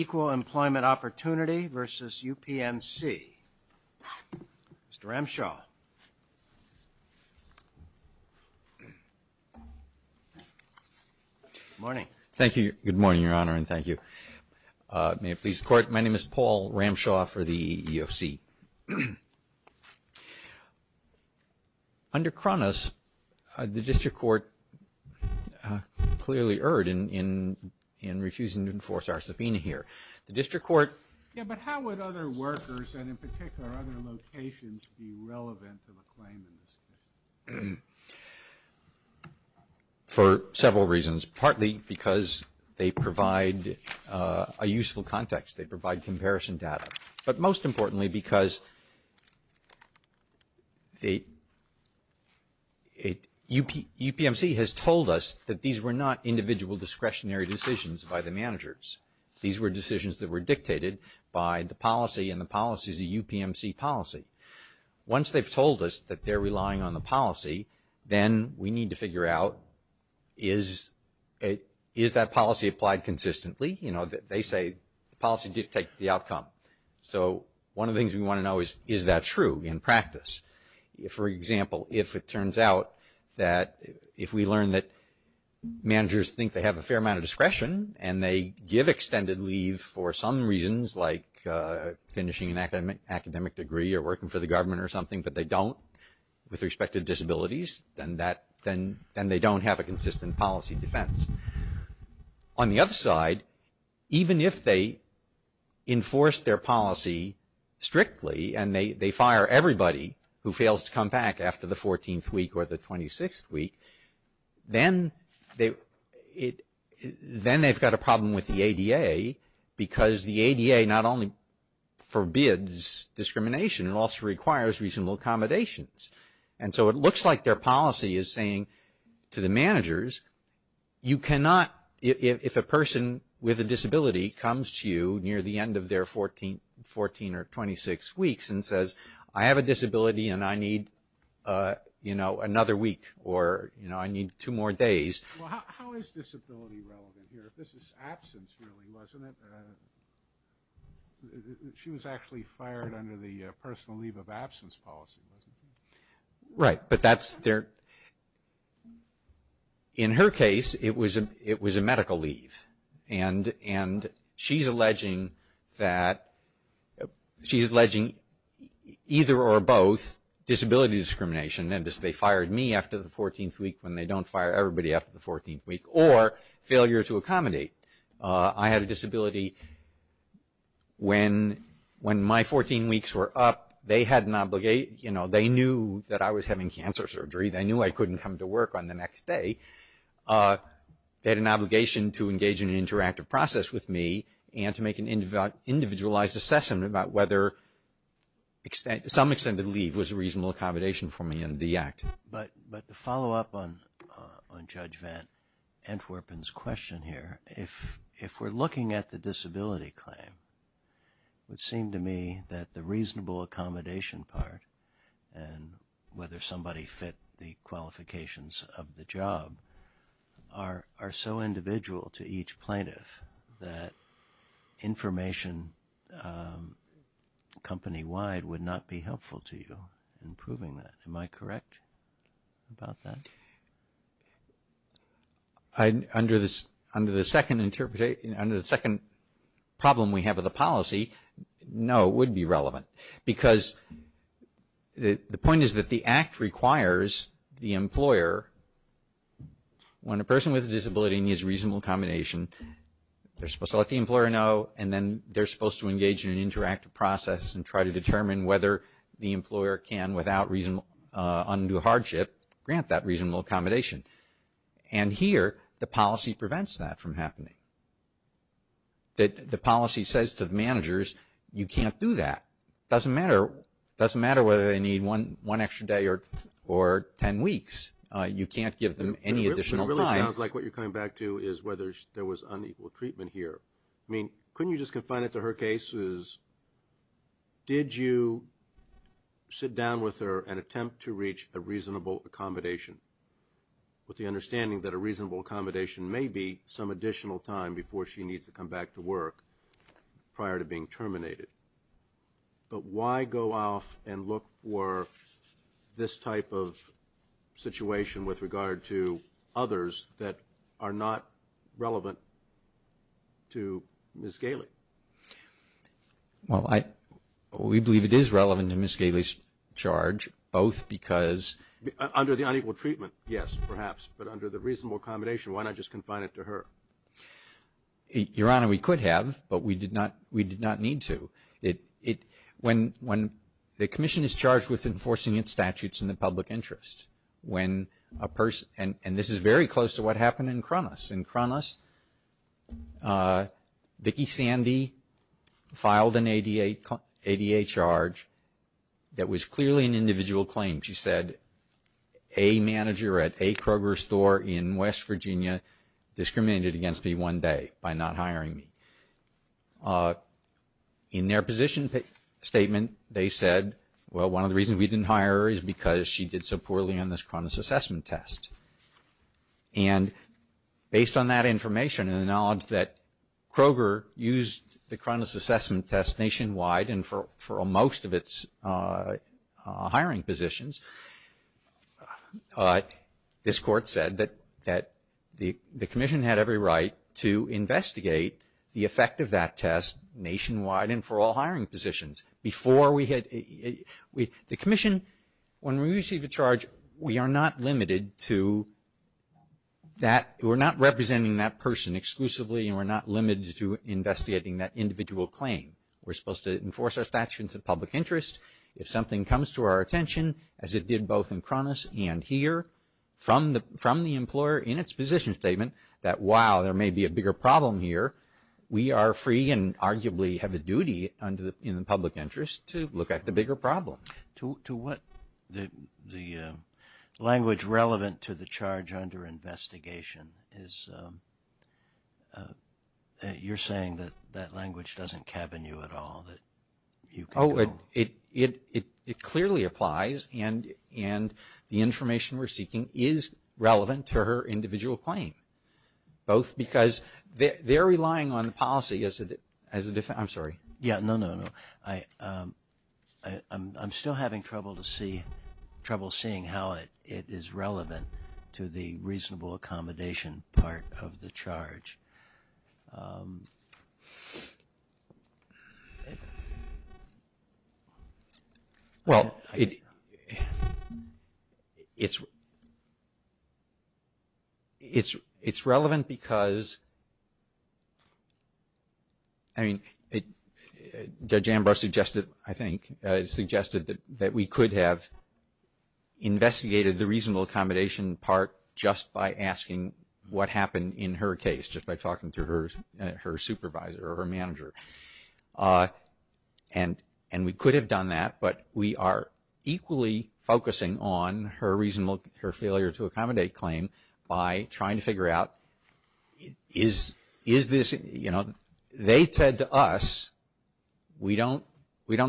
Equal Employment Opportunity v. UPMC Mr. Ramshaw, good morning. Thank you. Good morning, Your Honor, and thank you. May it please the Court, my name is Paul Ramshaw for the EEOC. Under Cronus, the District Court clearly erred in refusing to enforce our subpoena here. The District Court... Yeah, but how would other workers, and in particular other locations, be relevant to the claim in this case? For several reasons, partly because they provide a useful context, they provide comparison data, but most importantly because UPMC has told us that these were not individual discretionary decisions by the managers. These were decisions that were dictated by the policy, and the policy is a UPMC policy. Once they've told us that they're relying on the policy, then we need to figure out, is that policy applied consistently? You know, they say the policy dictates the outcome. So one of the things we want to know is, is that true in practice? For example, if it turns out that if we learn that managers think they have a fair amount of discretion and they give extended leave for some reasons, like finishing an academic degree or working for the government or something, but they don't with respect to disabilities, then they don't have a consistent policy defense. On the other side, even if they enforce their policy strictly and they fire everybody who fails to come back after the 14th week or the 26th week, then they've got a problem with the ADA because the ADA not only forbids discrimination, it also requires reasonable accommodations. And so it looks like their policy is saying to the managers, you cannot, if a person with a disability comes to you near the end of their 14 or 26 weeks and says, I have a disability and I need, you know, another week or, you know, I need two more days. Well, how is disability relevant here? This is absence really, wasn't it? She was actually fired under the personal leave of absence policy, wasn't she? Right, but that's their, in her case, it was a medical leave. And she's alleging that, she's alleging either or both disability discrimination and they fired me after the 14th week when they don't fire everybody after the 14th week or failure to accommodate. I had a disability when, when my 14 weeks were up, they had an obligation, you know, they knew that I was having cancer surgery. They knew I couldn't come to work on the next day. They had an obligation to engage in an interactive process with me and to make an individualized assessment about whether extent, to some extent, the leave was a reasonable accommodation for me in the act. But, but to follow up on Judge Van Antwerpen's question here, if we're looking at the disability claim, it would seem to me that the reasonable accommodation part and whether somebody fit the qualifications of the job are so individual to each plaintiff that information company-wide would not be helpful to you in proving that. Am I correct about that? Under the second interpretation, under the second problem we have with the policy, no, it would be relevant. Because the point is that the act requires the employer, when a person with a disability needs reasonable accommodation, they're supposed to let the employer know and then they're supposed to engage in an interactive process and try to determine whether the employer can, without reason, undue hardship, grant that reasonable accommodation. And here, the policy prevents that from happening. The policy says to the managers, you can't do that. It doesn't matter. It doesn't matter whether they need one extra day or ten weeks. You can't give them any additional time. It really sounds like what you're coming back to is whether there was unequal treatment here. I mean, couldn't you just confine it to her case? Did you sit down with her and attempt to reach a reasonable accommodation, with the understanding that a reasonable accommodation may be some additional time before she needs to come back to work prior to being terminated? But why go off and look for this type of situation with regard to others that are not relevant to Ms. Galey? Well, we believe it is relevant to Ms. Galey's charge, both because under the unequal treatment, yes, perhaps. But under the reasonable accommodation, why not just confine it to her? Your Honor, we could have, but we did not need to. When the Commission is charged with enforcing its statutes in the public interest, when a person – and this is very close to what happened in Kronos. In Kronos, Vicki Sandy filed an ADA charge that was clearly an individual claim. She said, a manager at a Kroger's store in West Virginia discriminated against me one day by not hiring me. In their position statement, they said, well, one of the reasons we didn't hire her is because she did so poorly on this Kronos assessment test. And based on that information and the knowledge that Kroger used the Kronos assessment test nationwide and for most of its hiring positions, this Court said that the Commission had every right to investigate the effect of that test nationwide and for all hiring positions before we had – the Commission, when we receive a charge, we are not limited to that – we're not representing that person exclusively and we're not limited to investigating that individual claim. We're supposed to enforce our statute into the public interest. If something comes to our attention, as it did both in Kronos and here, from the employer in its position statement, that while there may be a bigger problem here, we are free and arguably have a duty in the public interest to look at the bigger problem. To what – the language relevant to the charge under investigation is – you're saying that that language doesn't cabin you at all, that you can – Oh, it clearly applies and the information we're seeking is relevant to her individual claim, both because they're relying on the policy as a – I'm sorry. Yeah, no, no, no. I'm still having trouble to see – trouble seeing how it is relevant to the reasonable accommodation part of the charge. Well, it's – it's relevant because – I mean, Judge Ambrose suggested, I think, suggested that we could have investigated the reasonable accommodation part just by asking what happened in her case, just by asking what happened in her case. Just by talking to her supervisor or her manager. And we could have done that, but we are equally focusing on her reasonable – her failure to accommodate claim by trying to figure out, is this – you know, they said to us, we don't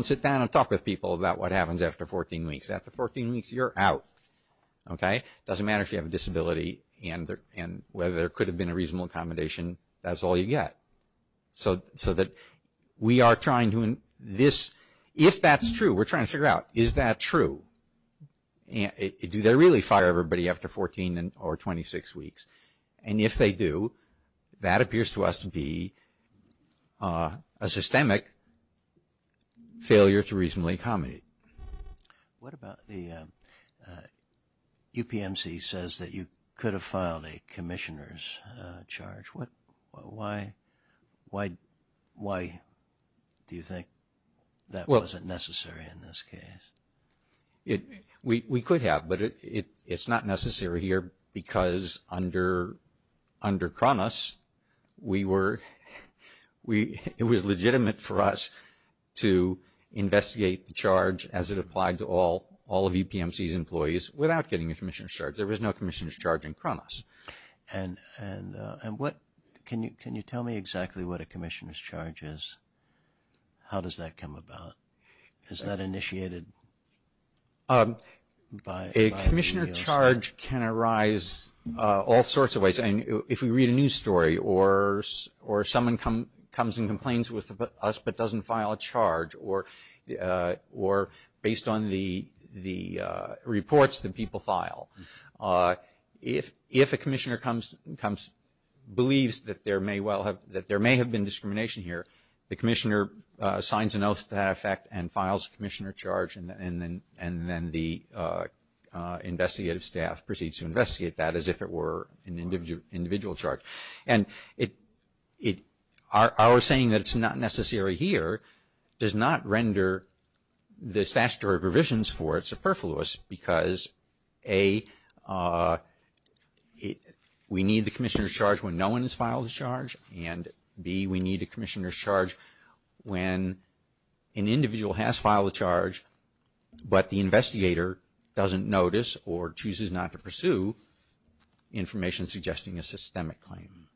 sit down and talk with people about what happens after 14 weeks. After 14 weeks, you're out, okay? It doesn't matter if you have a disability and whether there could have been a reasonable accommodation, that's all you get. So that we are trying to – this – if that's true, we're trying to figure out, is that true? Do they really fire everybody after 14 or 26 weeks? And if they do, that appears to us to be a systemic failure to reasonably accommodate. What about the – UPMC says that you could have filed a commissioner's charge. Why do you think that wasn't necessary in this case? We could have, but it's not necessary here because under CRONUS, we were – it was legitimate for us to investigate the charge as it applied to all of UPMC's employees without getting a commissioner's charge. There was no commissioner's charge in CRONUS. And what – can you tell me exactly what a commissioner's charge is? How does that come about? Is that initiated by – A commissioner charge can arise all sorts of ways. If we read a news story or someone comes and complains with us but doesn't file a charge or based on the reports that people file, if a commissioner comes – believes that there may well have – that there may have been discrimination here, the commissioner signs an oath to that effect and files a commissioner charge and then the investigative staff proceeds to investigate that as if it were an individual charge. And it – our saying that it's not necessary here does not render the statutory provisions for it superfluous because A, we need the commissioner's charge when no one has filed a charge, and B, we need a commissioner's charge when an individual has filed a charge but the investigator doesn't notice or chooses not to pursue information suggesting a systemic claim.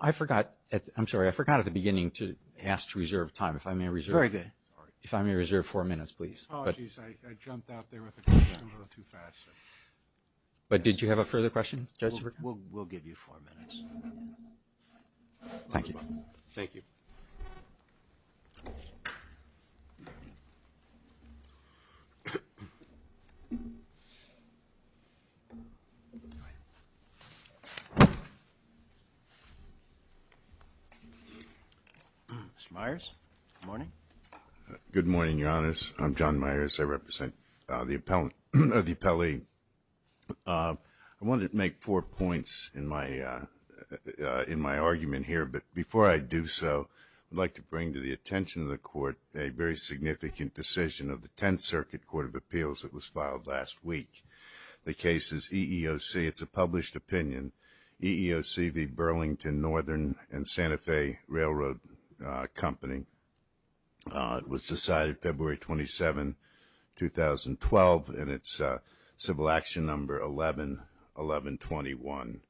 I forgot – I'm sorry. I forgot at the beginning to ask to reserve time. If I may reserve – Very good. If I may reserve four minutes, please. Apologies. I jumped out there with the question a little too fast. But did you have a further question, Judge? We'll give you four minutes. Thank you. Thank you. Mr. Myers, good morning. Good morning, Your Honors. I'm John Myers. I represent the appellee. I wanted to make four points in my argument here. But before I do so, I'd like to bring to the attention of the Court a very significant decision of the Tenth Circuit Court of Appeals that was filed last week. The case is EEOC. It's a published opinion. EEOC v. Burlington Northern and Santa Fe Railroad Company. It was decided February 27, 2012. And it's Civil Action Number 11121.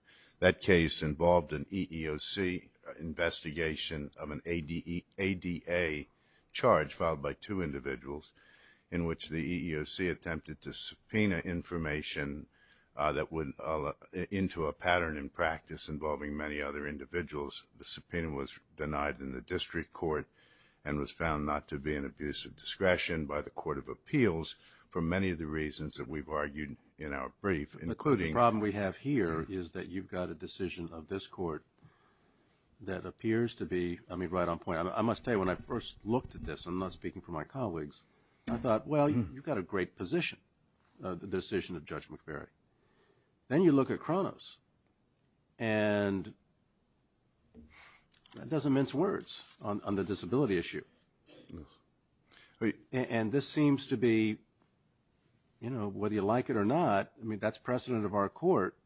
That case involved an EEOC investigation of an ADA charge filed by two individuals in which the EEOC attempted to subpoena information into a pattern in practice involving many other individuals. The subpoena was denied in the district court and was found not to be an abuse of discretion by the Court of Appeals for many of the reasons that we've argued in our brief, including... But the problem we have here is that you've got a decision of this court that appears to be, I mean, right on point. I must tell you, when I first looked at this, I'm not speaking for my colleagues, I thought, well, you've got a great position, the decision of Judge McVeary. Then you look at Kronos, and that doesn't mince words on the disability issue. And this seems to be, you know, whether you like it or not, I mean, that's precedent of our court.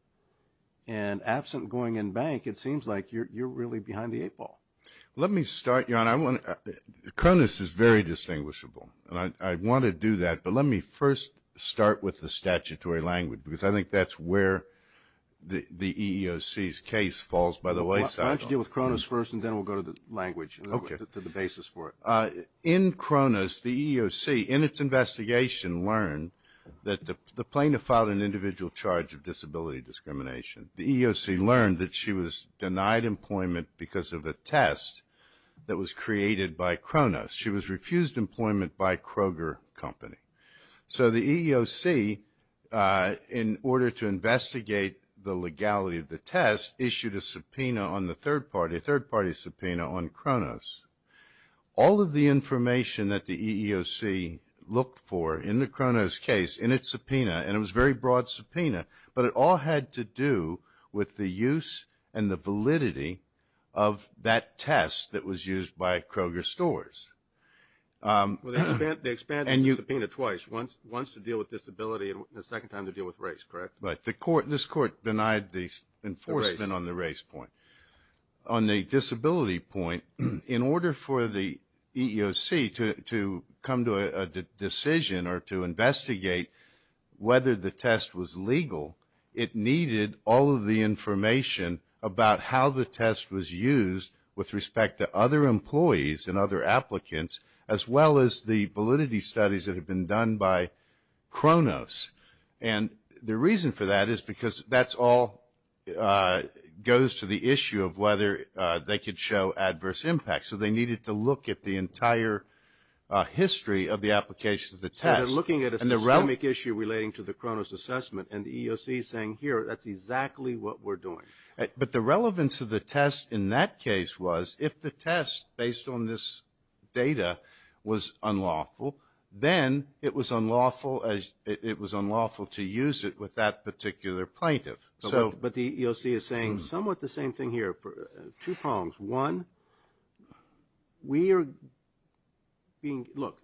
And absent going in bank, it seems like you're really behind the eight ball. Let me start, John. Kronos is very distinguishable, and I want to do that. But let me first start with the statutory language, because I think that's where the EEOC's case falls by the wayside. Why don't you deal with Kronos first, and then we'll go to the language, to the basis for it. In Kronos, the EEOC, in its investigation, learned that the plaintiff filed an individual charge of disability discrimination. The EEOC learned that she was denied employment because of a test that was created by Kronos. She was refused employment by Kroger Company. So the EEOC, in order to investigate the legality of the test, issued a subpoena on the third party, a third party subpoena on Kronos. All of the information that the EEOC looked for in the Kronos case, in its subpoena, and it was a very broad subpoena, but it all had to do with the use and the validity of that test that was used by Kroger Stores. They expanded the subpoena twice, once to deal with disability and the second time to deal with race, correct? Right. This court denied the enforcement on the race point. On the disability point, in order for the EEOC to come to a decision or to investigate whether the test was legal, it needed all of the information about how the test was used with respect to other employees and other applicants, as well as the validity studies that had been done by Kronos. And the reason for that is because that all goes to the issue of whether they could show adverse impact. So they needed to look at the entire history of the application of the test. So they're looking at a systemic issue relating to the Kronos assessment and the EEOC is saying, here, that's exactly what we're doing. But the relevance of the test in that case was, if the test based on this data was unlawful, then it was unlawful to use it with that particular plaintiff. But the EEOC is saying somewhat the same thing here. Two problems. One, we are being – look,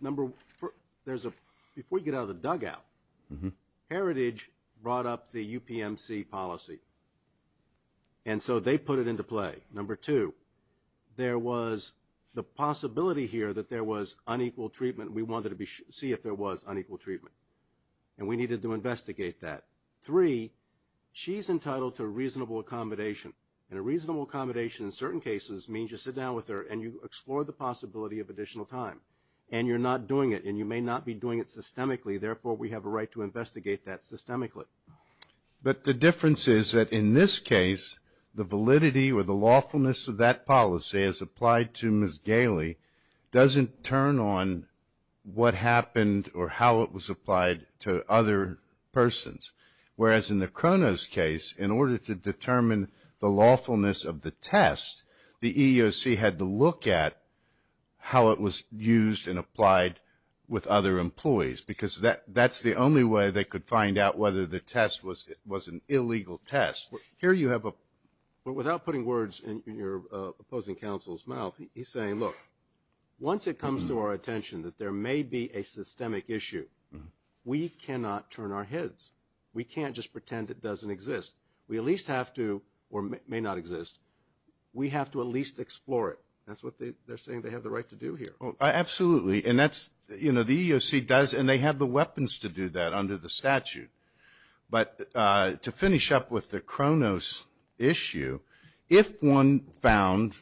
number – there's a – before you get out of the dugout, Heritage brought up the UPMC policy. And so they put it into play. Number two, there was the possibility here that there was unequal treatment. We wanted to see if there was unequal treatment. And we needed to investigate that. Three, she's entitled to reasonable accommodation. And a reasonable accommodation in certain cases means you sit down with her and you explore the possibility of additional time. And you're not doing it, and you may not be doing it systemically. Therefore, we have a right to investigate that systemically. But the difference is that in this case, the validity or the lawfulness of that policy as applied to Ms. Gailey doesn't turn on what happened or how it was applied to other persons. Whereas in the Kronos case, in order to determine the lawfulness of the test, the EEOC had to look at how it was used and applied with other employees because that's the only way they could find out whether the test was an illegal test. Here you have a – Without putting words in your opposing counsel's mouth, he's saying, look, once it comes to our attention that there may be a systemic issue, we cannot turn our heads. We can't just pretend it doesn't exist. We at least have to – or may not exist. We have to at least explore it. That's what they're saying they have the right to do here. Absolutely. And that's – you know, the EEOC does, and they have the weapons to do that under the statute. But to finish up with the Kronos issue, if one found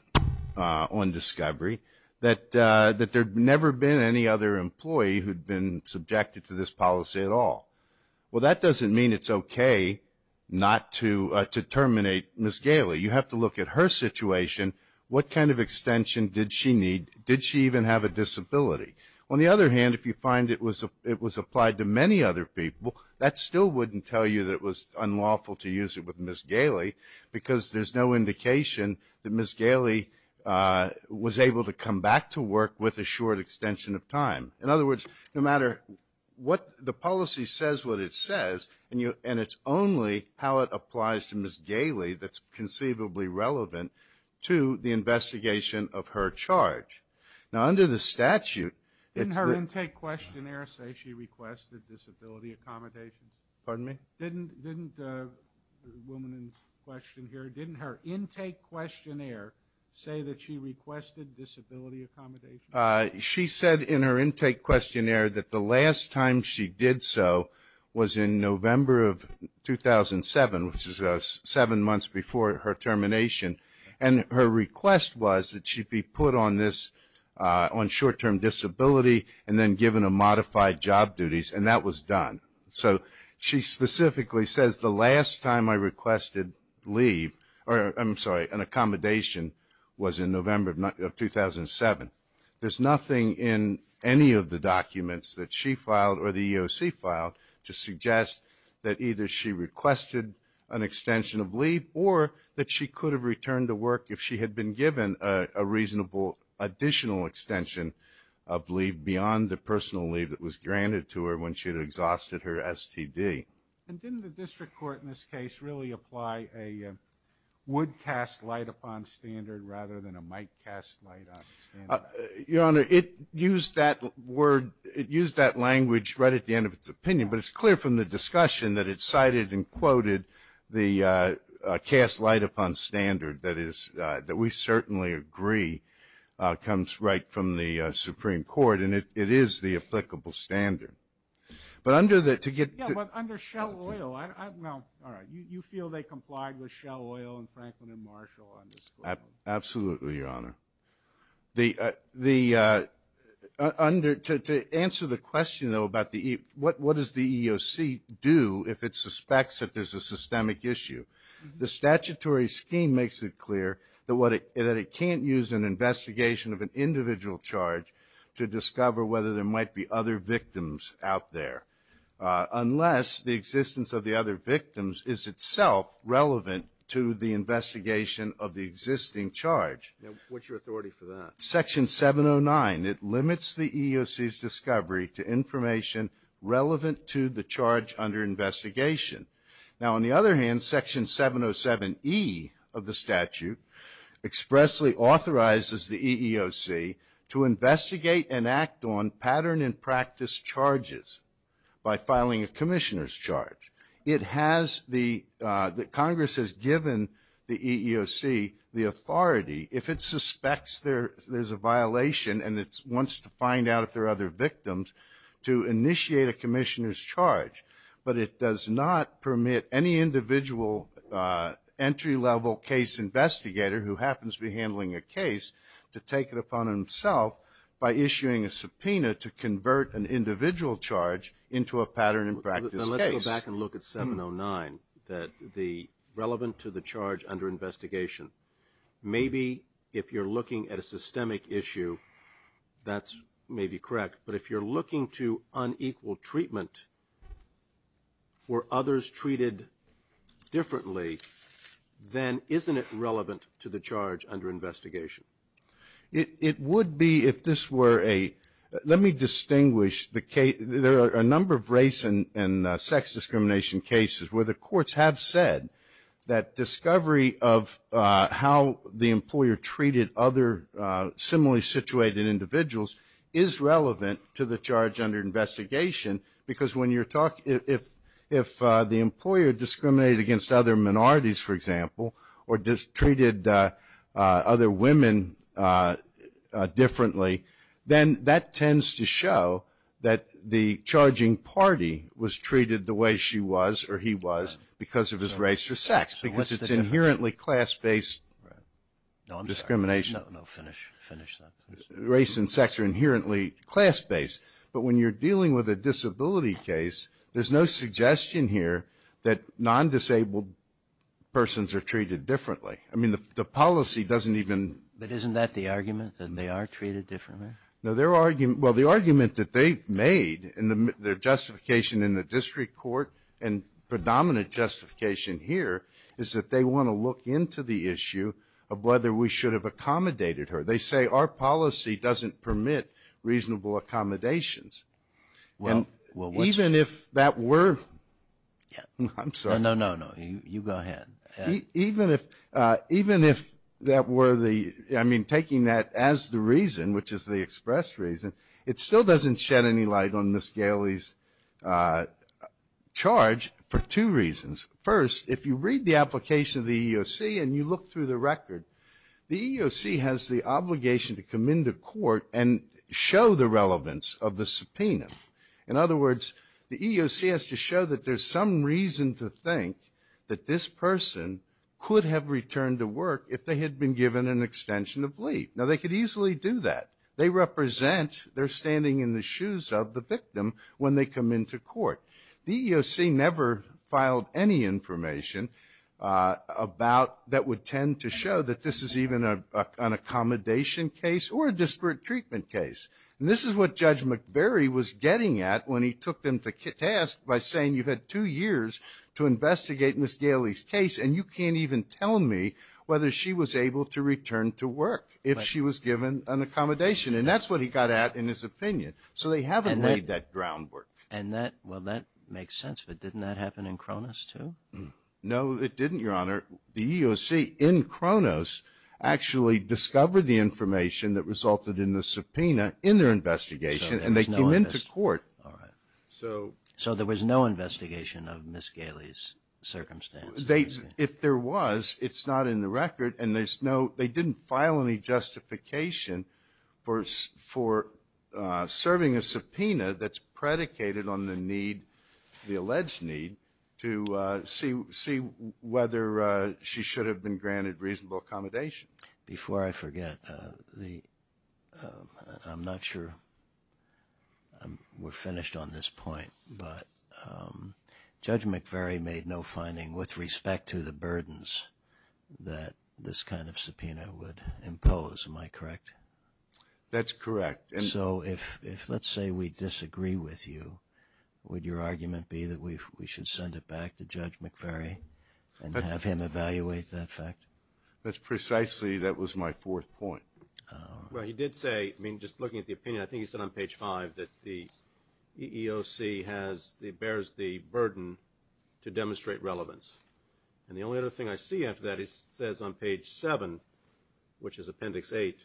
on discovery that there had never been any other employee who had been subjected to this policy at all, well, that doesn't mean it's okay not to terminate Ms. Gailey. You have to look at her situation. What kind of extension did she need? Did she even have a disability? On the other hand, if you find it was applied to many other people, that still wouldn't tell you that it was unlawful to use it with Ms. Gailey because there's no indication that Ms. Gailey was able to come back to work with a short extension of time. In other words, no matter what – the policy says what it says, and it's only how it applies to Ms. Gailey that's conceivably relevant to the investigation of her charge. Now, under the statute, it's the – Didn't her intake questionnaire say she requested disability accommodations? Pardon me? Didn't the woman in question here, didn't her intake questionnaire say that she requested disability accommodations? She said in her intake questionnaire that the last time she did so was in November of 2007, which is seven months before her termination, and her request was that she be put on this – on short-term disability and then given a modified job duties, and that was done. So she specifically says, the last time I requested leave – I'm sorry, an accommodation was in November of 2007. There's nothing in any of the documents that she filed or the EEOC filed to suggest that either she requested an extension of leave or that she could have returned to work if she had been given a reasonable additional extension of leave beyond the personal leave that was granted to her when she had exhausted her STD. And didn't the district court in this case really apply a would-cast-light-upon standard rather than a might-cast-light-upon standard? Your Honor, it used that word – it used that language right at the end of its opinion, but it's clear from the discussion that it cited and quoted the cast-light-upon standard that is – that we certainly agree comes right from the Supreme Court, and it is the applicable standard. But under the – to get – Yeah, but under Shell Oil – well, all right. You feel they complied with Shell Oil and Franklin and Marshall on this claim? Absolutely, Your Honor. The – under – to answer the question, though, about the – what does the EEOC do if it suspects that there's a systemic issue? The statutory scheme makes it clear that what it – that it can't use an investigation of an individual charge to discover whether there might be other victims out there unless the existence of the other victims is itself relevant to the investigation of the existing charge. Now, what's your authority for that? Section 709. It limits the EEOC's discovery to information relevant to the charge under investigation. Now, on the other hand, Section 707E of the statute expressly authorizes the EEOC to investigate and act on pattern and practice charges by filing a commissioner's charge. It has the – Congress has given the EEOC the authority, if it suspects there's a violation and it wants to find out if there are other victims, to initiate a commissioner's charge. But it does not permit any individual entry-level case investigator who happens to be handling a case to take it upon himself by issuing a subpoena to convert an individual charge into a pattern and practice case. Now, let's go back and look at 709, that the – relevant to the charge under investigation. Maybe if you're looking at a systemic issue, that's maybe correct. But if you're looking to unequal treatment where others treated differently, then isn't it relevant to the charge under investigation? It would be if this were a – let me distinguish the – there are a number of race and sex discrimination cases where the courts have said that discovery of how the employer treated other similarly situated individuals is relevant to the charge under investigation because when you're talking – if the employer discriminated against other minorities, for example, or treated other women differently, then that tends to show that the charging party was treated the way she was or he was because of his race or sex because it's inherently class-based discrimination. No, I'm sorry. No, finish that, please. Race and sex are inherently class-based. But when you're dealing with a disability case, there's no suggestion here that non-disabled persons are treated differently. I mean, the policy doesn't even – But isn't that the argument, that they are treated differently? No, their argument – well, the argument that they've made and their justification in the district court and predominant justification here is that they want to look into the issue of whether we should have accommodated her. They say our policy doesn't permit reasonable accommodations. And even if that were – I'm sorry. No, no, no. You go ahead. Even if that were the – I mean, taking that as the reason, which is the express reason, it still doesn't shed any light on Ms. Gailey's charge for two reasons. First, if you read the application of the EEOC and you look through the record, the EEOC has the obligation to come into court and show the relevance of the subpoena. In other words, the EEOC has to show that there's some reason to think that this person could have returned to work if they had been given an extension of leave. Now, they could easily do that. They represent they're standing in the shoes of the victim when they come into court. The EEOC never filed any information about – that would tend to show that this is even an accommodation case or a disparate treatment case. And this is what Judge McVeary was getting at when he took them to task by saying you've had two years to investigate Ms. Gailey's case and you can't even tell me whether she was able to return to work if she was given an accommodation. And that's what he got at in his opinion. So they haven't laid that groundwork. And that – well, that makes sense, but didn't that happen in Kronos too? No, it didn't, Your Honor. The EEOC in Kronos actually discovered the information that resulted in the subpoena in their investigation and they came into court. So there was no investigation of Ms. Gailey's circumstance? If there was, it's not in the record and there's no – for serving a subpoena that's predicated on the need, the alleged need, to see whether she should have been granted reasonable accommodation. Before I forget, I'm not sure we're finished on this point, but Judge McVeary made no finding with respect to the burdens that this kind of subpoena would impose. Am I correct? That's correct. So if, let's say, we disagree with you, would your argument be that we should send it back to Judge McVeary and have him evaluate that fact? That's precisely – that was my fourth point. Well, he did say – I mean, just looking at the opinion, I think he said on page 5 that the EEOC bears the burden to demonstrate relevance. And the only other thing I see after that, he says on page 7, which is appendix 8,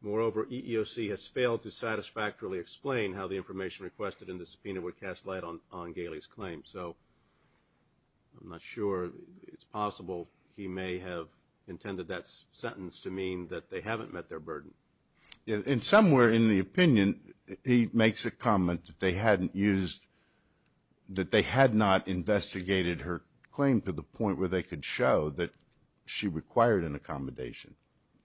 moreover, EEOC has failed to satisfactorily explain how the information requested in the subpoena would cast light on Gailey's claim. So I'm not sure it's possible he may have intended that sentence to mean that they haven't met their burden. And somewhere in the opinion, he makes a comment that they hadn't used – to the point where they could show that she required an accommodation.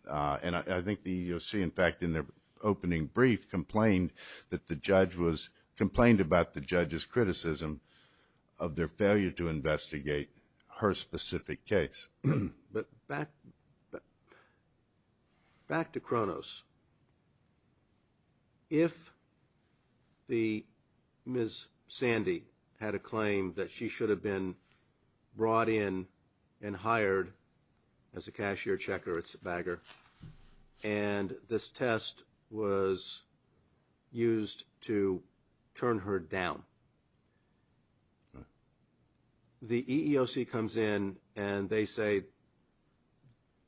And I think the EEOC, in fact, in their opening brief, complained that the judge was – complained about the judge's criticism of their failure to investigate her specific case. But back to Kronos. If the – Ms. Sandy had a claim that she should have been brought in and hired as a cashier checker at BAGR, and this test was used to turn her down, the EEOC comes in and they say,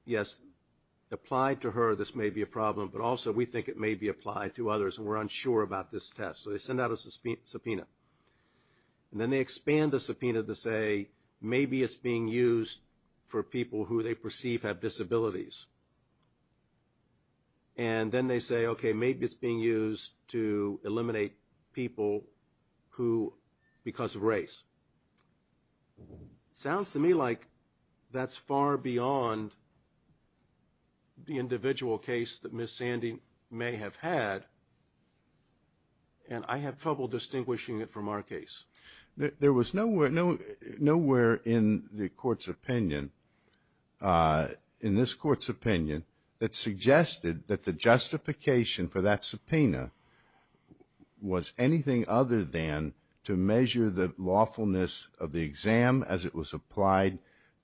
yes, applied to her, this may be a problem, but also we think it may be applied to others, and we're unsure about this test. So they send out a subpoena. And then they expand the subpoena to say maybe it's being used for people who they perceive have disabilities. And then they say, okay, maybe it's being used to eliminate people who – because of race. Sounds to me like that's far beyond the individual case that Ms. Sandy may have had, and I have trouble distinguishing it from our case. There was nowhere in the Court's opinion, in this Court's opinion, that suggested that the justification for that subpoena was anything other than to measure the lawfulness of the exam as it was applied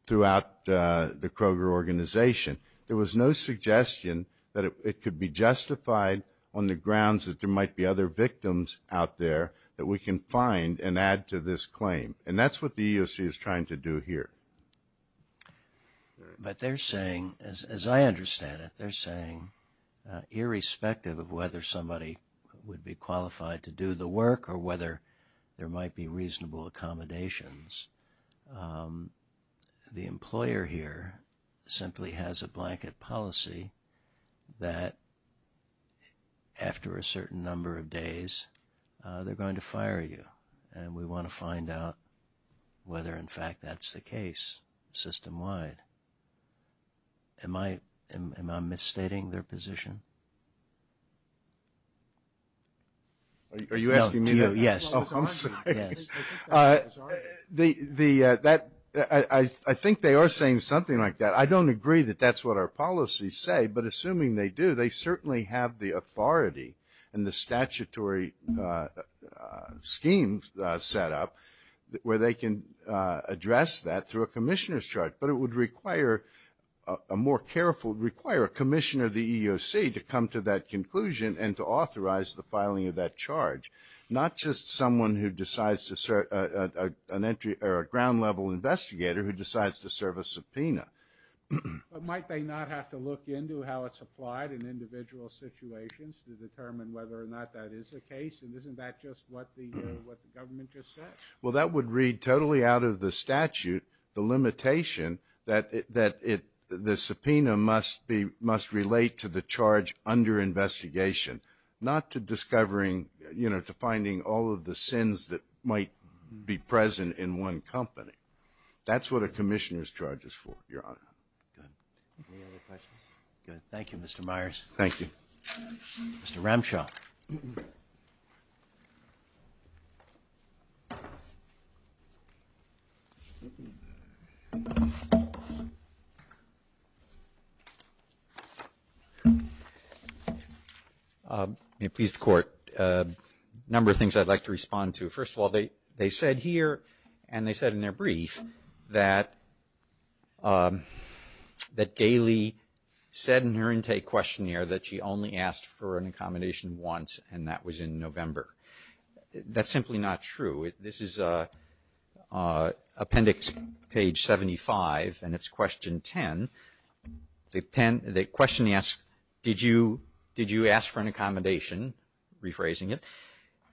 throughout the Kroger organization. There was no suggestion that it could be justified on the grounds that there might be other victims out there that we can find and add to this claim. And that's what the EEOC is trying to do here. But they're saying, as I understand it, they're saying, irrespective of whether somebody would be qualified to do the work or whether there might be reasonable accommodations, the employer here simply has a blanket policy that, after a certain number of days, they're going to fire you. And we want to find out whether, in fact, that's the case system-wide. Am I misstating their position? Are you asking me that? Yes. Oh, I'm sorry. Yes. I think they are saying something like that. I don't agree that that's what our policies say, but assuming they do, they certainly have the authority and the statutory scheme set up where they can address that through a commissioner's charge. But it would require a commissioner of the EEOC to come to that conclusion and to authorize the filing of that charge, not just a ground-level investigator who decides to serve a subpoena. But might they not have to look into how it's applied in individual situations to determine whether or not that is the case? And isn't that just what the government just said? Well, that would read totally out of the statute the limitation that the subpoena must relate to the charge under investigation, not to discovering, you know, to finding all of the sins that might be present in one company. That's what a commissioner's charge is for, Your Honor. Good. Any other questions? Good. Thank you, Mr. Myers. Thank you. Mr. Ramshaw. May it please the Court. A number of things I'd like to respond to. First of all, they said here, and they said in their brief, that Gailey said in her intake questionnaire that she only asked for an accommodation once, and that was in November. That's simply not true. This is appendix page 75, and it's question 10. The question asks, did you ask for an accommodation, rephrasing it,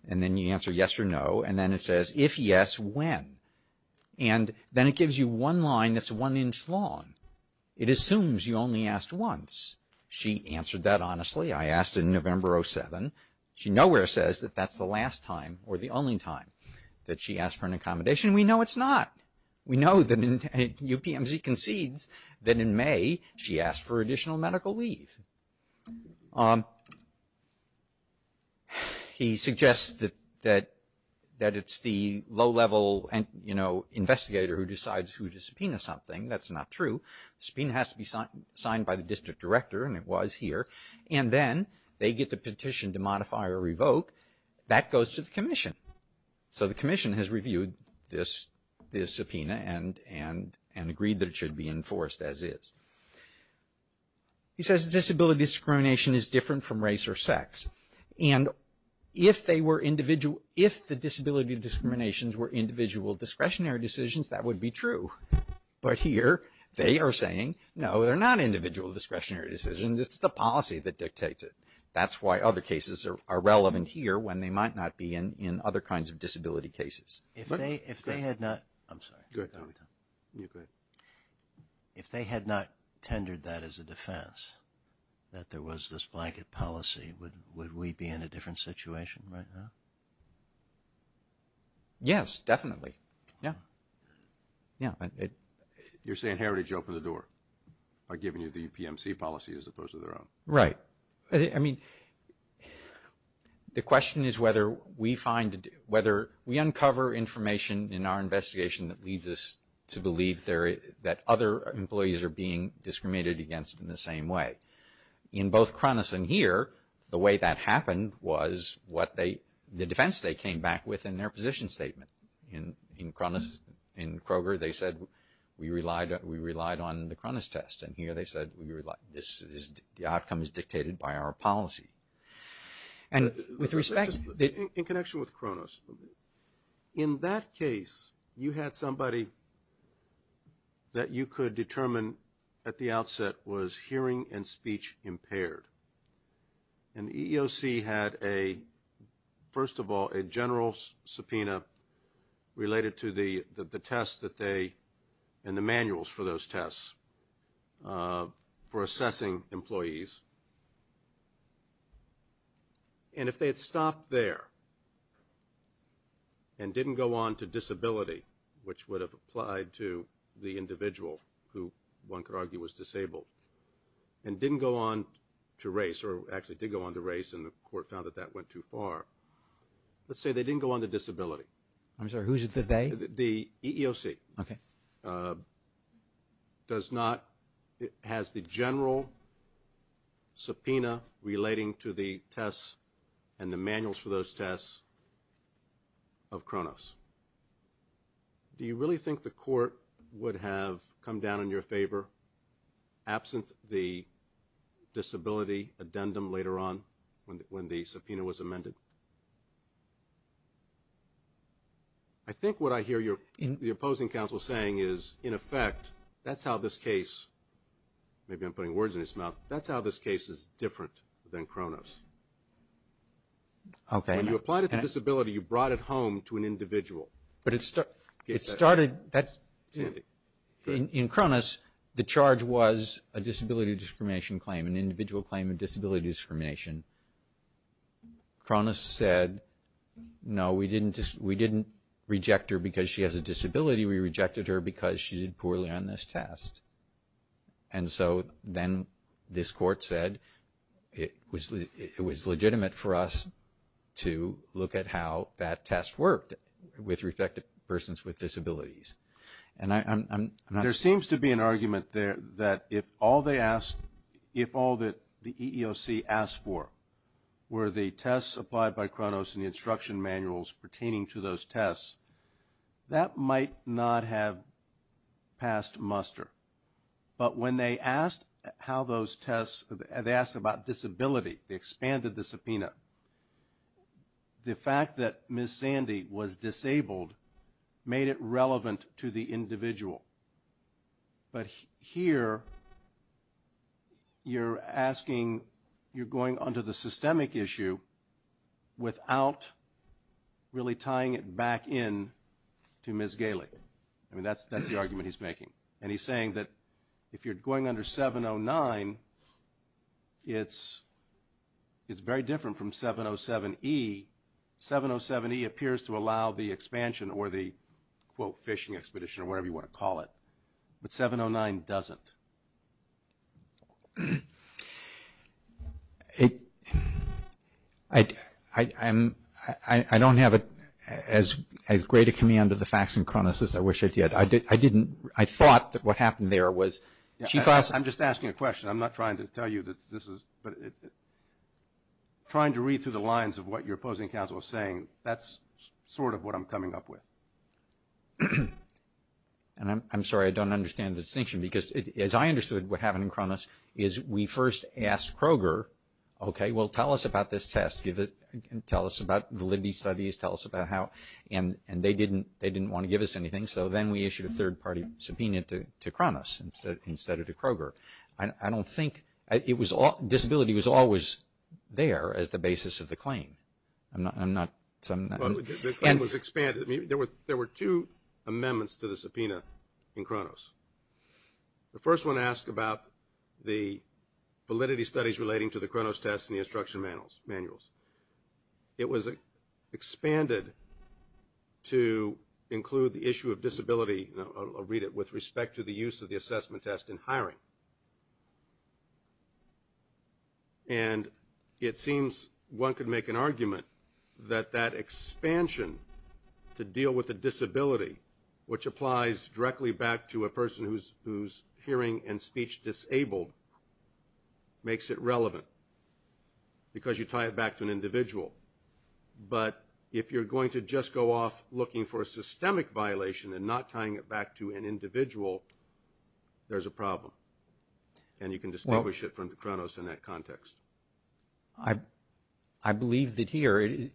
and then you answer yes or no, and then it says, if yes, when? And then it gives you one line that's one inch long. It assumes you only asked once. She answered that honestly. I asked in November of 2007. She nowhere says that that's the last time or the only time that she asked for an accommodation. We know it's not. We know that UPMC concedes that in May she asked for additional medical leave. He suggests that it's the low-level, you know, investigator who decides who to subpoena something. That's not true. The subpoena has to be signed by the district director, and it was here. And then they get the petition to modify or revoke. That goes to the commission. So the commission has reviewed this subpoena and agreed that it should be enforced as is. He says disability discrimination is different from race or sex. And if the disability discriminations were individual discretionary decisions, that would be true. But here they are saying, no, they're not individual discretionary decisions. It's the policy that dictates it. That's why other cases are relevant here when they might not be in other kinds of disability cases. If they had not tendered that as a defense, that there was this blanket policy, would we be in a different situation right now? Yes, definitely. Yeah. You're saying Heritage opened the door by giving you the UPMC policy as opposed to their own? Right. I mean, the question is whether we uncover information in our investigation that leads us to believe that other employees are being discriminated against in the same way. In both Cronus and here, the way that happened was the defense they came back with in their position statement. In Cronus, in Kroger, they said we relied on the Cronus test. And here they said the outcome is dictated by our policy. In connection with Cronus, in that case, you had somebody that you could determine at the outset was hearing and speech impaired. And the EEOC had, first of all, a general subpoena related to the test that they, and the manuals for those tests for assessing employees. And if they had stopped there and didn't go on to disability, which would have applied to the individual who one could argue was disabled, and didn't go on to race, or actually did go on to race, and the court found that that went too far, let's say they didn't go on to disability. I'm sorry, who's the they? The EEOC. Okay. Does not, has the general subpoena relating to the tests and the manuals for those tests of Cronus. Do you really think the court would have come down in your favor, absent the disability addendum later on when the subpoena was amended? I think what I hear the opposing counsel saying is, in effect, that's how this case, maybe I'm putting words in his mouth, that's how this case is different than Cronus. Okay. When you applied it to disability, you brought it home to an individual. But it started, in Cronus, the charge was a disability discrimination claim, an individual claim of disability discrimination. Cronus said, no, we didn't reject her because she has a disability, we rejected her because she did poorly on this test. And so then this court said it was legitimate for us to look at how that test worked with respect to persons with disabilities. There seems to be an argument there that if all they asked, if all that the EEOC asked for were the tests applied by Cronus and the instruction manuals pertaining to those tests, that might not have passed muster. But when they asked how those tests, they asked about disability, they expanded the subpoena. The fact that Ms. Sandy was disabled made it relevant to the individual. But here, you're asking, you're going onto the systemic issue without really tying it back in to Ms. Gailey. I mean, that's the argument he's making. And he's saying that if you're going under 709, it's very different from 707E. 707E appears to allow the expansion or the, quote, fishing expedition or whatever you want to call it. But 709 doesn't. I don't have as great a command of the facts in Cronus as I wish I did. I didn't, I thought that what happened there was she thought. I'm just asking a question. I'm not trying to tell you that this is, but trying to read through the lines of what your opposing counsel is saying, that's sort of what I'm coming up with. And I'm sorry, I don't understand the distinction. Because as I understood what happened in Cronus is we first asked Kroger, okay, well, tell us about this test. Tell us about validity studies. Tell us about how. And they didn't want to give us anything. So then we issued a third-party subpoena to Cronus instead of to Kroger. I don't think, it was all, disability was always there as the basis of the claim. I'm not. The claim was expanded. There were two amendments to the subpoena in Cronus. The first one asked about the validity studies relating to the Cronus test and the instruction manuals. It was expanded to include the issue of disability, I'll read it, with respect to the use of the assessment test in hiring. And it seems one could make an argument that that expansion to deal with the disability, which applies directly back to a person who's hearing and speech disabled, makes it relevant because you tie it back to an individual. But if you're going to just go off looking for a systemic violation and not tying it back to an individual, there's a problem. And you can distinguish it from Cronus in that context. I believe that here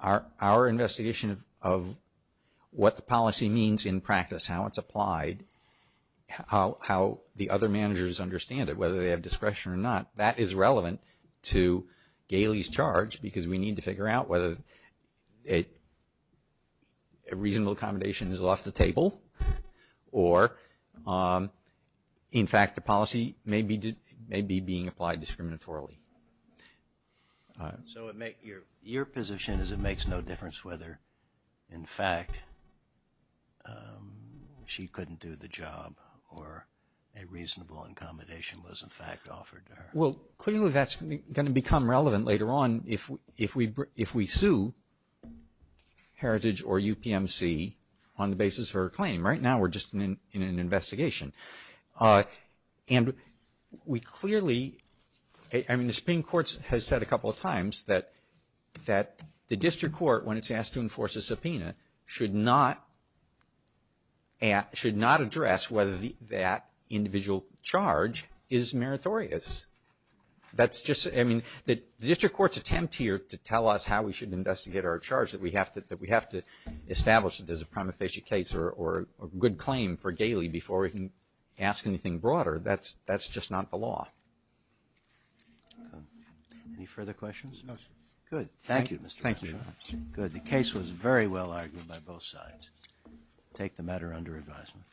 our investigation of what the policy means in practice, how it's applied, how the other managers understand it, whether they have discretion or not, that is relevant to Gailey's charge because we need to figure out whether a reasonable accommodation is off the table or, in fact, the policy may be being applied discriminatorily. So your position is it makes no difference whether, in fact, she couldn't do the job or a reasonable accommodation was, in fact, offered to her? Well, clearly that's going to become relevant later on if we sue Heritage or UPMC on the basis of her claim. Right now we're just in an investigation. And we clearly – I mean, the Supreme Court has said a couple of times that the district court, when it's asked to enforce a subpoena, should not address whether that individual charge is meritorious. That's just – I mean, the district court's attempt here to tell us how we should investigate our charge, that we have to establish that there's a prima facie case or a good claim for Gailey before we can ask anything broader, that's just not the law. Any further questions? No, sir. Good. Thank you. Thank you. Good. The case was very well argued by both sides. Take the matter under advisement.